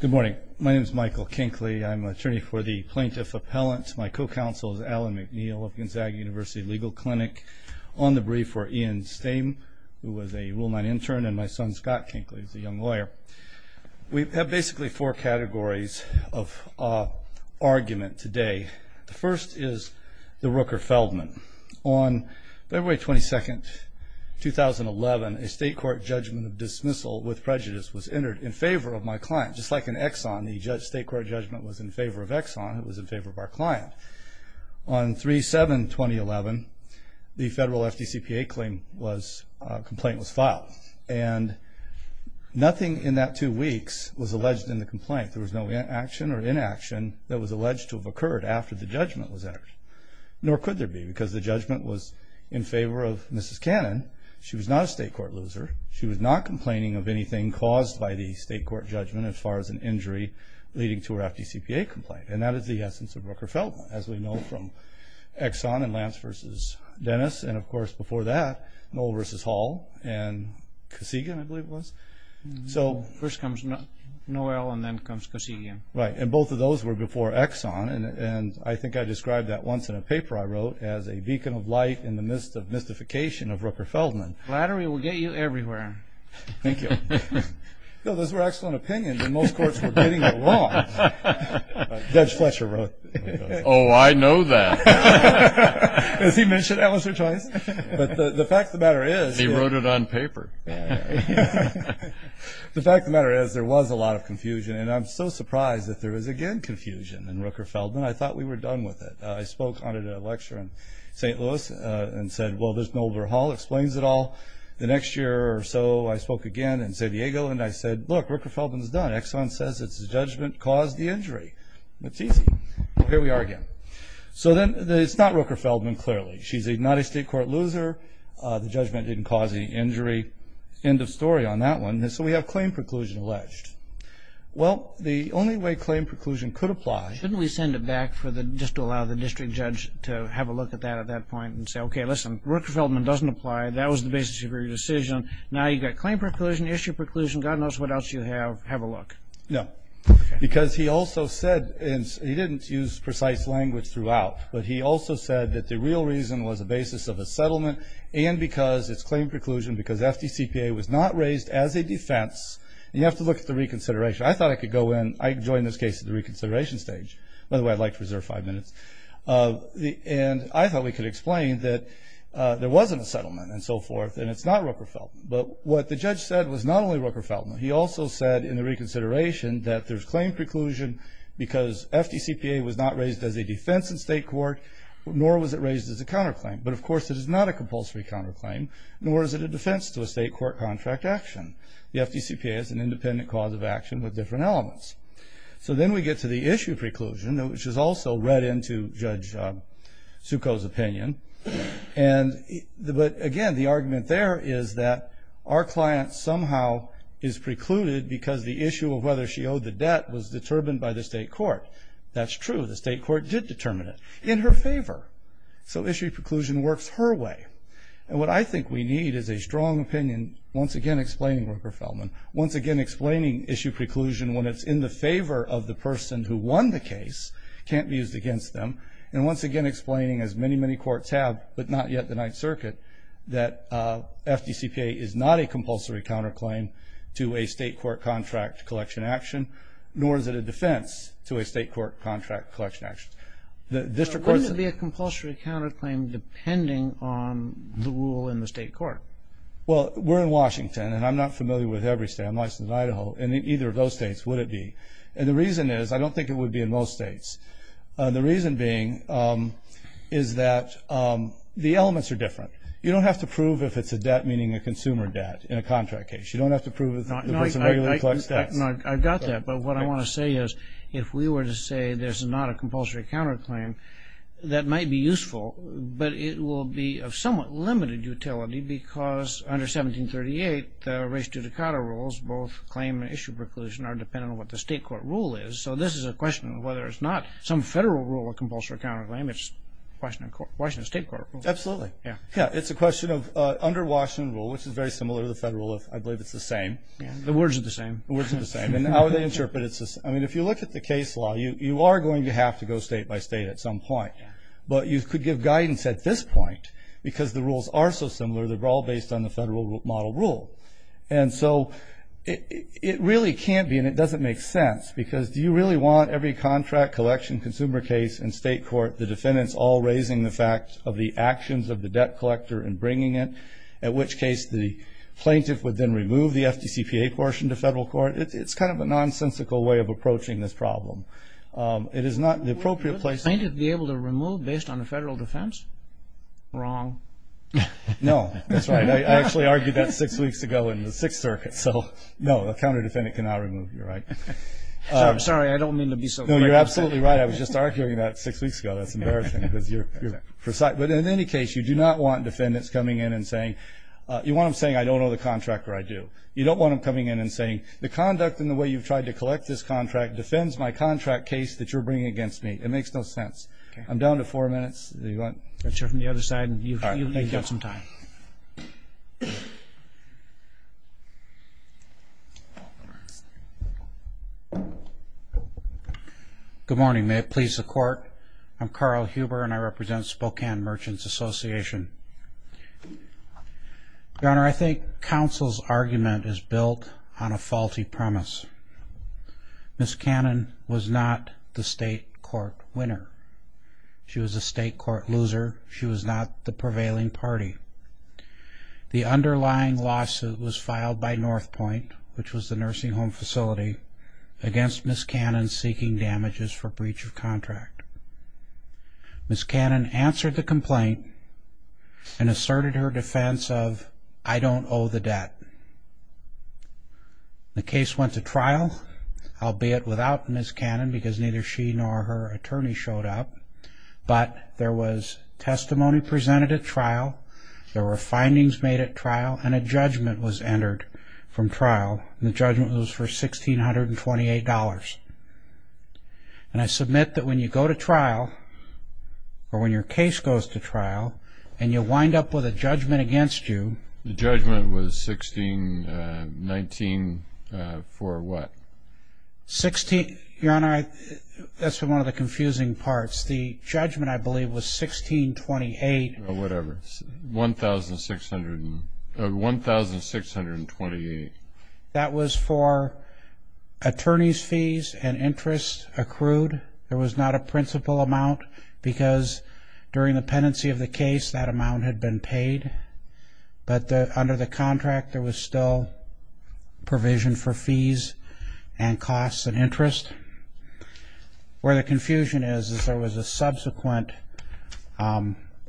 Good morning. My name is Michael Kinkley. I'm an attorney for the Plaintiff Appellant. My co-counsel is Alan McNeil of Gonzaga University Legal Clinic. On the brief were Ian Stame, who was a Rule 9 intern, and my son Scott Kinkley, who's a young lawyer. We have basically four categories of argument today. The first is the Rooker-Feldman. On February 22, 2011, a state court judgment of dismissal with prejudice was entered in favor of my client. Just like in Exxon, the state court judgment was in favor of Exxon. It was in favor of our client. On 3-7-2011, the federal FDCPA complaint was filed. And nothing in that two weeks was alleged in the complaint. There was no action or inaction that was alleged to have occurred after the judgment was entered. Nor could there be, because the judgment was in favor of Mrs. Cannon. She was not a state court loser. She was not complaining of anything caused by the state court judgment as far as an injury leading to her FDCPA complaint. And that is the essence of Rooker-Feldman, as we know from Exxon and Lance v. Dennis. And, of course, before that, Noel v. Hall and Kosygin, I believe it was. First comes Noel and then comes Kosygin. Right, and both of those were before Exxon. And I think I described that once in a paper I wrote as a beacon of light in the midst of mystification of Rooker-Feldman. Flattery will get you everywhere. Thank you. Those were excellent opinions, and most courts were getting it wrong. Judge Fletcher wrote that. Oh, I know that. As he mentioned, that was her choice. But the fact of the matter is... He wrote it on paper. The fact of the matter is there was a lot of confusion, and I'm so surprised that there is again confusion in Rooker-Feldman. I thought we were done with it. I spoke on it at a lecture in St. Louis and said, well, this Noel v. Hall explains it all. The next year or so, I spoke again in San Diego, and I said, look, Rooker-Feldman is done. Exxon says it's the judgment caused the injury. It's easy. Here we are again. So then it's not Rooker-Feldman, clearly. She's not a state court loser. The judgment didn't cause any injury. End of story on that one. So we have claim preclusion alleged. Well, the only way claim preclusion could apply... to have a look at that at that point and say, okay, listen, Rooker-Feldman doesn't apply. That was the basis of your decision. Now you've got claim preclusion, issue preclusion. God knows what else you have. Have a look. No, because he also said, and he didn't use precise language throughout, but he also said that the real reason was a basis of a settlement and because it's claim preclusion, because FDCPA was not raised as a defense. You have to look at the reconsideration. I thought I could go in. I joined this case at the reconsideration stage. By the way, I'd like to reserve five minutes. And I thought we could explain that there wasn't a settlement and so forth and it's not Rooker-Feldman. But what the judge said was not only Rooker-Feldman. He also said in the reconsideration that there's claim preclusion because FDCPA was not raised as a defense in state court, nor was it raised as a counterclaim. But, of course, it is not a compulsory counterclaim, nor is it a defense to a state court contract action. The FDCPA is an independent cause of action with different elements. So then we get to the issue preclusion, which is also read into Judge Sukho's opinion. But, again, the argument there is that our client somehow is precluded because the issue of whether she owed the debt was determined by the state court. That's true. The state court did determine it in her favor. So issue preclusion works her way. And what I think we need is a strong opinion once again explaining Rooker-Feldman, once again explaining issue preclusion when it's in the favor of the person who won the case, can't be used against them, and once again explaining, as many, many courts have, but not yet the Ninth Circuit, that FDCPA is not a compulsory counterclaim to a state court contract collection action, nor is it a defense to a state court contract collection action. The district courts... So wouldn't it be a compulsory counterclaim depending on the rule in the state court? Well, we're in Washington, and I'm not familiar with every state. I'm licensed in Idaho, and in either of those states would it be. And the reason is I don't think it would be in most states. The reason being is that the elements are different. You don't have to prove if it's a debt, meaning a consumer debt, in a contract case. You don't have to prove if the person regularly collects debts. I got that, but what I want to say is if we were to say there's not a compulsory counterclaim, that might be useful, but it will be of somewhat limited utility because under 1738, the race to decada rules, both claim and issue preclusion, are dependent on what the state court rule is. So this is a question of whether it's not some federal rule or compulsory counterclaim. It's Washington state court rule. Absolutely. Yeah, it's a question of under Washington rule, which is very similar to the federal rule if I believe it's the same. The words are the same. The words are the same. And how would they interpret it? I mean, if you look at the case law, you are going to have to go state by state at some point. But you could give guidance at this point because the rules are so similar. They're all based on the federal model rule. And so it really can't be, and it doesn't make sense, because do you really want every contract, collection, consumer case in state court, the defendants all raising the fact of the actions of the debt collector and bringing it, at which case the plaintiff would then remove the FDCPA portion to federal court? It's kind of a nonsensical way of approaching this problem. It is not the appropriate place. Would the plaintiff be able to remove based on the federal defense? Wrong. No, that's right. I actually argued that six weeks ago in the Sixth Circuit. So, no, a counter-defendant cannot remove. You're right. I'm sorry. I don't mean to be so great. No, you're absolutely right. I was just arguing that six weeks ago. That's embarrassing because you're precise. But in any case, you do not want defendants coming in and saying, you want them saying, I don't know the contractor, I do. You don't want them coming in and saying, the conduct and the way you've tried to collect this contract defends my contract case that you're bringing against me. It makes no sense. I'm down to four minutes. You want to start from the other side? You've got some time. Good morning. May it please the Court. I'm Carl Huber, and I represent Spokane Merchants Association. Your Honor, I think counsel's argument is built on a faulty premise. Ms. Cannon was not the state court winner. She was a state court loser. She was not the prevailing party. The underlying lawsuit was filed by North Point, which was the nursing home facility, against Ms. Cannon seeking damages for breach of contract. Ms. Cannon answered the complaint and asserted her defense of, I don't owe the debt. The case went to trial, albeit without Ms. Cannon, because neither she nor her attorney showed up. But there was testimony presented at trial, there were findings made at trial, and a judgment was entered from trial. The judgment was for $1,628. And I submit that when you go to trial, or when your case goes to trial, and you wind up with a judgment against you. The judgment was $1,619 for what? Your Honor, that's one of the confusing parts. The judgment, I believe, was $1,628. Whatever, $1,628. That was for attorney's fees and interest accrued. There was not a principal amount, because during the pendency of the case that amount had been paid. But under the contract, there was still provision for fees and costs and interest. Where the confusion is, is there was a subsequent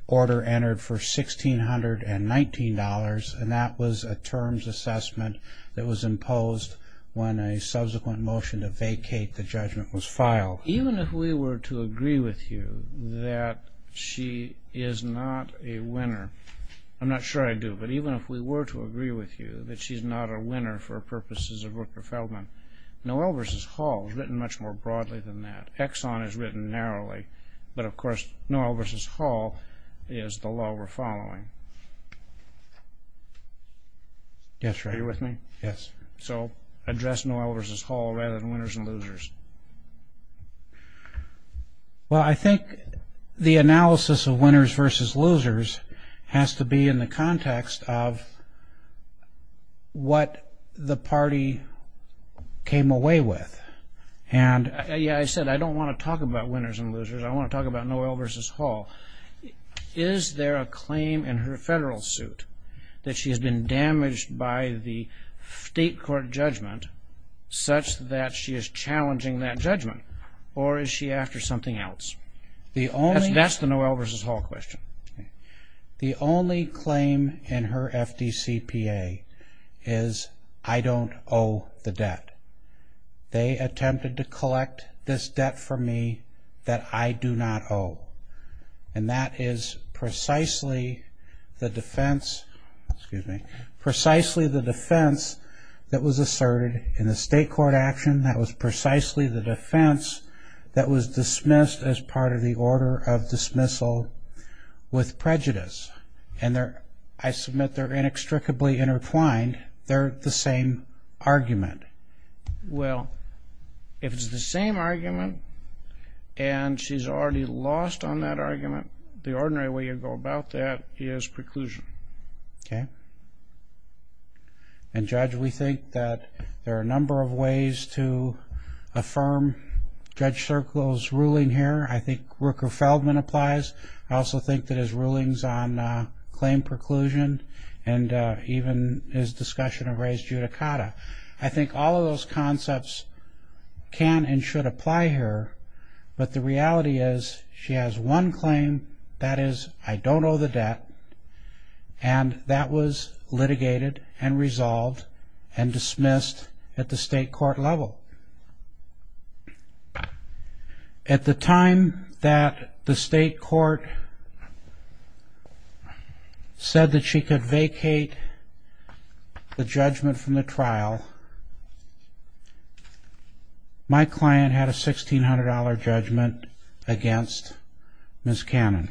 order entered for $1,619, and that was a terms assessment that was imposed when a subsequent motion to vacate the judgment was filed. Even if we were to agree with you that she is not a winner, I'm not sure I do, but even if we were to agree with you that she's not a winner for purposes of Rooker-Feldman, Noel versus Hall is written much more broadly than that. Exxon is written narrowly, but, of course, Noel versus Hall is the law we're following. Are you with me? Yes. So address Noel versus Hall rather than winners and losers. Well, I think the analysis of winners versus losers has to be in the context of what the party came away with. Yeah, I said I don't want to talk about winners and losers. I want to talk about Noel versus Hall. Is there a claim in her federal suit that she has been damaged by the state court judgment such that she is challenging that judgment, or is she after something else? That's the Noel versus Hall question. The only claim in her FDCPA is I don't owe the debt. They attempted to collect this debt from me that I do not owe, and that is precisely the defense that was asserted in the state court action. That was precisely the defense that was dismissed as part of the order of dismissal with prejudice, and I submit they're inextricably intertwined. They're the same argument. Well, if it's the same argument and she's already lost on that argument, the ordinary way you go about that is preclusion. Okay. And, Judge, we think that there are a number of ways to affirm Judge Circle's ruling here. I think Rooker-Feldman applies. I also think that his rulings on claim preclusion and even his discussion of res judicata, I think all of those concepts can and should apply here, but the reality is she has one claim, that is I don't owe the debt, and that was litigated and resolved and dismissed at the state court level. At the time that the state court said that she could vacate the judgment from the trial, my client had a $1,600 judgment against Ms. Cannon,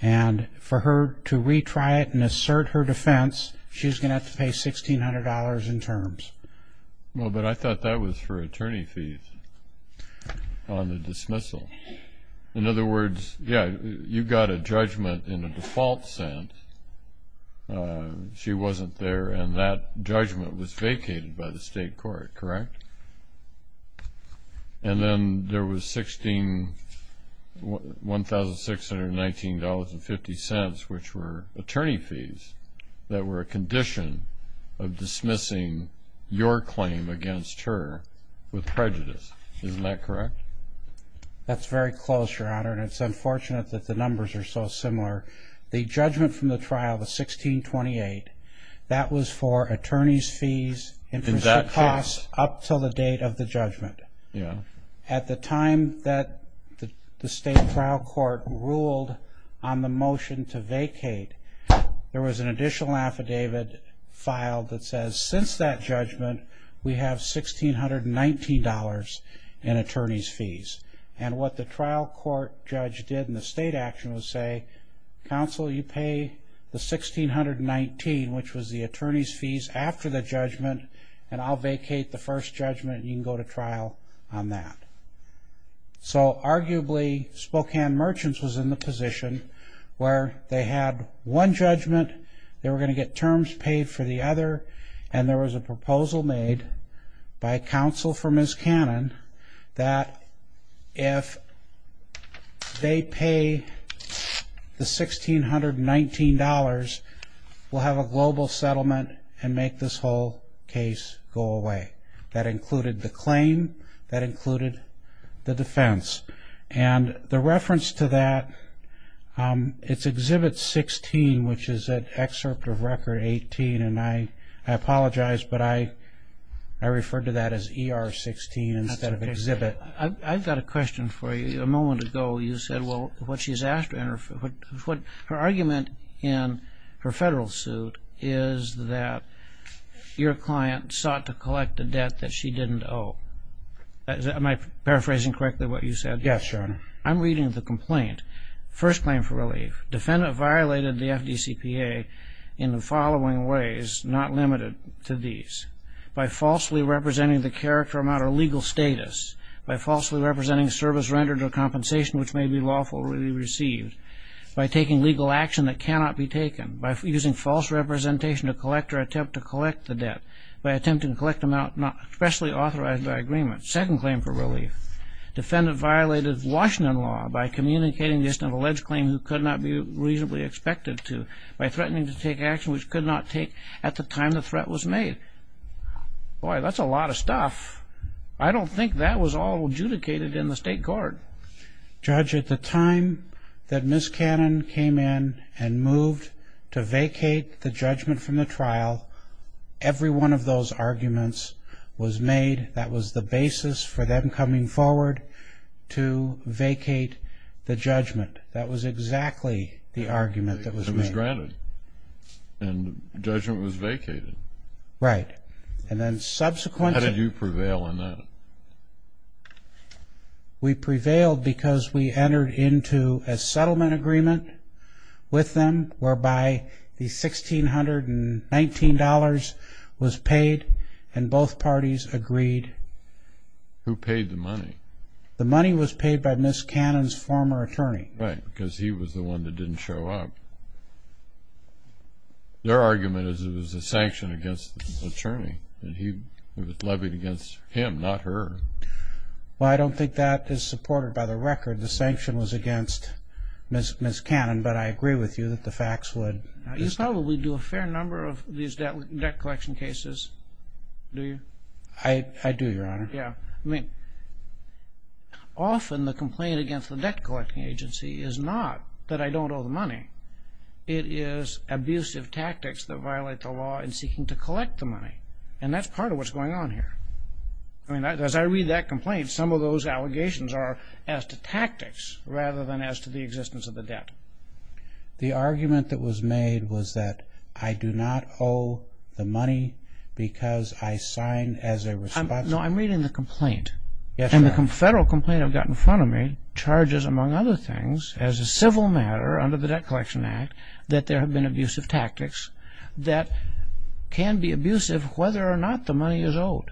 and for her to retry it and assert her defense, she's going to have to pay $1,600 in terms. Well, but I thought that was for attorney fees on the dismissal. In other words, yeah, you got a judgment in a default sense. She wasn't there, and that judgment was vacated by the state court, correct? And then there was $1,619.50, which were attorney fees, that were a condition of dismissing your claim against her with prejudice. Isn't that correct? That's very close, Your Honor, and it's unfortunate that the numbers are so similar. The judgment from the trial, the $1,628, that was for attorney fees up until the date of the judgment. At the time that the state trial court ruled on the motion to vacate, there was an additional affidavit filed that says since that judgment, we have $1,619 in attorney fees. And what the trial court judge did in the state action was say, Counsel, you pay the $1,619, which was the attorney fees, after the judgment, and I'll vacate the first judgment, and you can go to trial on that. So arguably, Spokane Merchants was in the position where they had one judgment, they were going to get terms paid for the other, and there was a proposal made by counsel for Ms. Cannon that if they pay the $1,619, we'll have a global settlement and make this whole case go away. That included the claim, that included the defense. And the reference to that, it's Exhibit 16, which is an excerpt of Record 18, and I apologize, but I referred to that as ER 16 instead of Exhibit. I've got a question for you. A moment ago, you said, well, what she's asked, her argument in her federal suit is that your client sought to collect a debt that she didn't owe. Am I paraphrasing correctly what you said? Yes, Your Honor. I'm reading the complaint. First claim for relief. Defendant violated the FDCPA in the following ways, not limited to these. By falsely representing the character amount or legal status, by falsely representing service rendered or compensation which may be lawfully received, by taking legal action that cannot be taken, by using false representation to collect or attempt to collect the debt, by attempting to collect amount not expressly authorized by agreement. Second claim for relief. Defendant violated Washington law by communicating just an alleged claim who could not be reasonably expected to, by threatening to take action which could not take at the time the threat was made. Boy, that's a lot of stuff. I don't think that was all adjudicated in the state court. Judge, at the time that Ms. Cannon came in and moved to vacate the judgment from the trial, every one of those arguments was made. That was the basis for them coming forward to vacate the judgment. That was exactly the argument that was made. It was granted. And judgment was vacated. Right. And then subsequently... How did you prevail in that? We prevailed because we entered into a settlement agreement with them whereby the $1,619 was paid and both parties agreed... Who paid the money? The money was paid by Ms. Cannon's former attorney. Right, because he was the one that didn't show up. Their argument is it was a sanction against the attorney and it was levied against him, not her. Well, I don't think that is supported by the record. The sanction was against Ms. Cannon, but I agree with you that the facts would... You probably do a fair number of these debt collection cases, do you? I do, Your Honor. Yeah. I mean, often the complaint against the debt collecting agency is not that I don't owe the money. It is abusive tactics that violate the law in seeking to collect the money, and that's part of what's going on here. I mean, as I read that complaint, rather than as to the existence of the debt. The argument that was made was that I do not owe the money because I signed as a response... No, I'm reading the complaint. Yes, Your Honor. And the federal complaint I've got in front of me charges, among other things, as a civil matter under the Debt Collection Act that there have been abusive tactics that can be abusive whether or not the money is owed.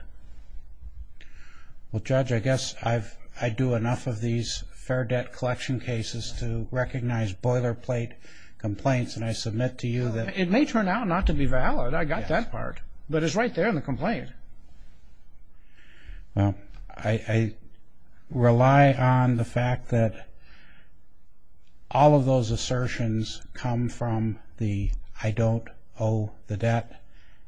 Well, Judge, I guess I do enough of these fair debt collection cases to recognize boilerplate complaints, and I submit to you that... It may turn out not to be valid. I got that part, but it's right there in the complaint. Well, I rely on the fact that all of those assertions come from the I don't owe the debt,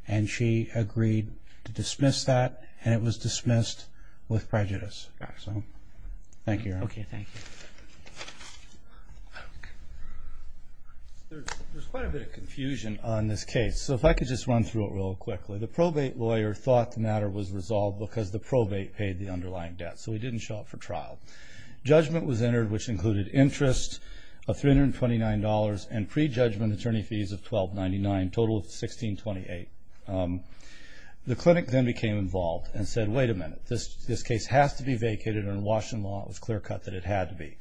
and she agreed to dismiss that, and it was dismissed with prejudice. So, thank you, Your Honor. Okay, thank you. There's quite a bit of confusion on this case, so if I could just run through it real quickly. The probate lawyer thought the matter was resolved because the probate paid the underlying debt, so he didn't show up for trial. Judgment was entered, which included interest of $329 and prejudgment attorney fees of $1,299, total of $1,628. The clinic then became involved and said, wait a minute, this case has to be vacated, and in Washington law it was clear cut that it had to be.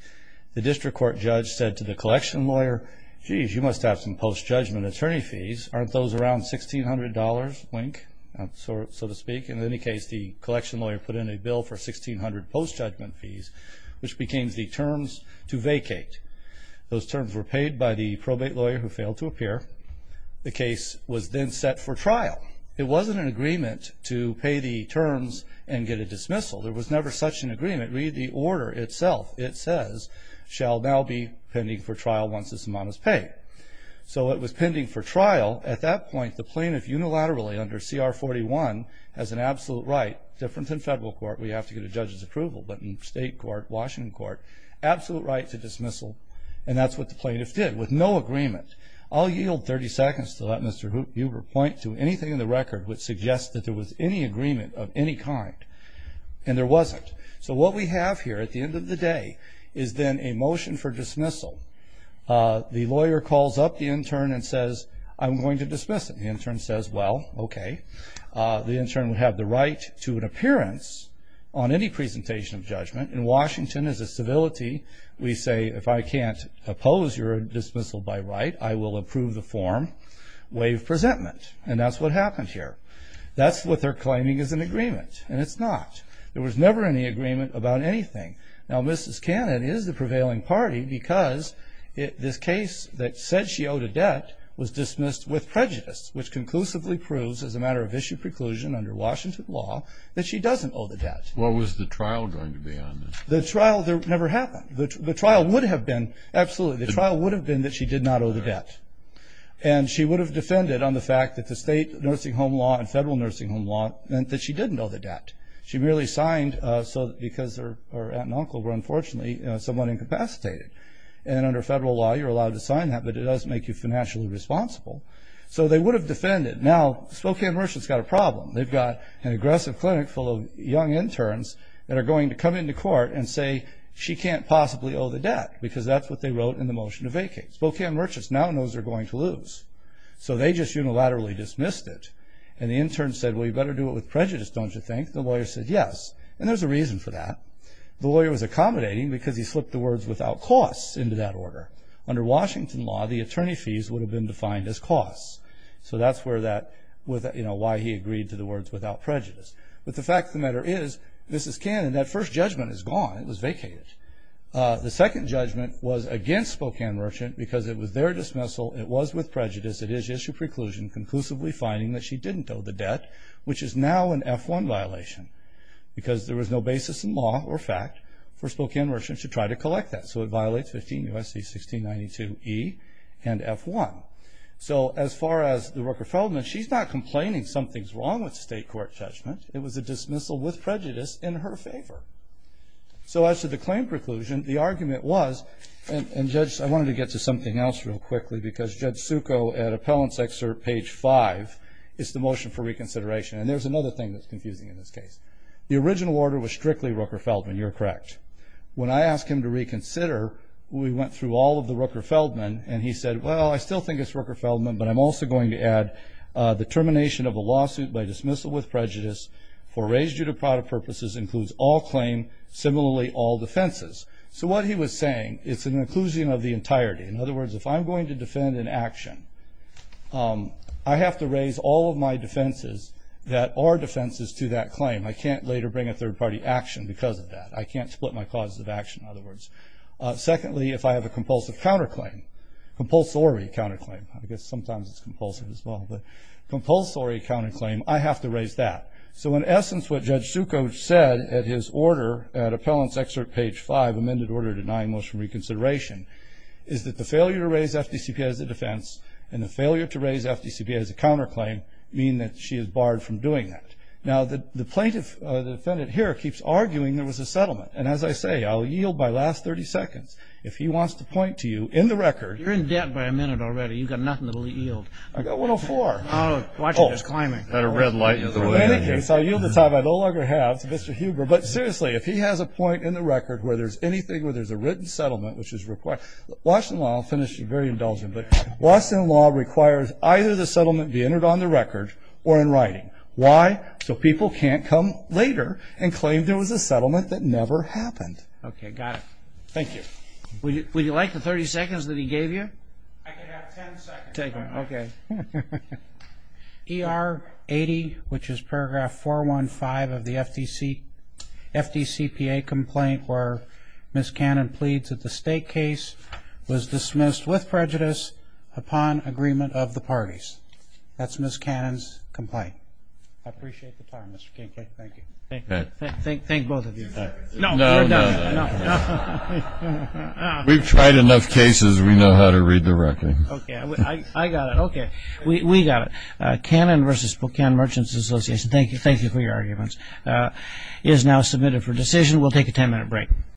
The district court judge said to the collection lawyer, jeez, you must have some post-judgment attorney fees. Aren't those around $1,600, wink, so to speak? In any case, the collection lawyer put in a bill for 1,600 post-judgment fees, which became the terms to vacate. Those terms were paid by the probate lawyer who failed to appear. The case was then set for trial. It wasn't an agreement to pay the terms and get a dismissal. There was never such an agreement. Read the order itself. It says, shall now be pending for trial once this amount is paid. So it was pending for trial. At that point, the plaintiff unilaterally under CR 41 has an absolute right, different than federal court where you have to get a judge's approval, but in state court, Washington court, absolute right to dismissal, and that's what the plaintiff did with no agreement. I'll yield 30 seconds to let Mr. Huber point to anything in the record which suggests that there was any agreement of any kind, and there wasn't. So what we have here at the end of the day is then a motion for dismissal. The lawyer calls up the intern and says, I'm going to dismiss it. The intern says, well, okay. The intern would have the right to an appearance on any presentation of judgment. In Washington, as a civility, we say, if I can't oppose your dismissal by right, I will approve the form, waive presentment, and that's what happened here. That's what they're claiming is an agreement, and it's not. There was never any agreement about anything. Now, Mrs. Cannon is the prevailing party because this case that said she owed a debt was dismissed with prejudice, which conclusively proves, as a matter of issue preclusion under Washington law, that she doesn't owe the debt. What was the trial going to be on this? The trial never happened. The trial would have been, absolutely, the trial would have been that she did not owe the debt, and she would have defended on the fact that the state nursing home law and federal nursing home law meant that she didn't owe the debt. She merely signed because her aunt and uncle were, unfortunately, somewhat incapacitated. And under federal law, you're allowed to sign that, but it doesn't make you financially responsible. So they would have defended. Now, Spokane merchants got a problem. They've got an aggressive clinic full of young interns that are going to come into court and say she can't possibly owe the debt because that's what they wrote in the motion to vacate. Spokane merchants now knows they're going to lose, so they just unilaterally dismissed it. And the intern said, well, you better do it with prejudice, don't you think? The lawyer said, yes. And there's a reason for that. The lawyer was accommodating because he slipped the words without costs into that order. Under Washington law, the attorney fees would have been defined as costs. So that's why he agreed to the words without prejudice. But the fact of the matter is, this is canon. That first judgment is gone. It was vacated. The second judgment was against Spokane merchants because it was their dismissal. It was with prejudice. It is issue preclusion conclusively finding that she didn't owe the debt, which is now an F-1 violation because there was no basis in law or fact for Spokane merchants to try to collect that. So it violates 15 U.S.C. 1692E and F-1. So as far as the Rooker-Feldman, she's not complaining something's wrong with state court judgment. It was a dismissal with prejudice in her favor. So as to the claim preclusion, the argument was, and, Judge, I wanted to get to something else real quickly because Judge Succo, at Appellant's Excerpt, page 5, is the motion for reconsideration. And there's another thing that's confusing in this case. The original order was strictly Rooker-Feldman. You're correct. When I asked him to reconsider, we went through all of the Rooker-Feldman, and he said, well, I still think it's Rooker-Feldman, but I'm also going to add the termination of a lawsuit by dismissal with prejudice for raised due to product purposes includes all claim, similarly all defenses. So what he was saying, it's an inclusion of the entirety. In other words, if I'm going to defend an action, I have to raise all of my defenses that are defenses to that claim. I can't later bring a third-party action because of that. I can't split my causes of action, in other words. Secondly, if I have a compulsive counterclaim, compulsory counterclaim, I guess sometimes it's compulsive as well, but compulsory counterclaim, I have to raise that. So in essence, what Judge Succo said at his order, at Appellant's Excerpt, Page 5, Amended Order Denying Motion for Reconsideration, is that the failure to raise FDCPA as a defense and the failure to raise FDCPA as a counterclaim mean that she is barred from doing that. Now, the plaintiff, the defendant here, keeps arguing there was a settlement, and as I say, I'll yield by last 30 seconds. If he wants to point to you in the record. You're in debt by a minute already. You've got nothing to yield. I got 104. Oh, watch it. It's climbing. In any case, I yield the time I no longer have to Mr. Huber, but seriously, if he has a point in the record where there's anything, where there's a written settlement, which is required. Washington law, I'll finish, very indulgent, but Washington law requires either the settlement be entered on the record or in writing. Why? So people can't come later and claim there was a settlement that never happened. Okay, got it. Thank you. Would you like the 30 seconds that he gave you? I can have 10 seconds. Take them. Okay. ER 80, which is paragraph 415 of the FDCPA complaint where Ms. Cannon pleads that the state case was dismissed with prejudice upon agreement of the parties. That's Ms. Cannon's complaint. I appreciate the time, Mr. Kincaid. Thank you. Thank both of you. No, no. We've tried enough cases. We know how to read the record. Okay. I got it. Okay. We got it. Cannon v. Buchanan Merchants Association, thank you for your arguments, is now submitted for decision. We'll take a 10-minute break.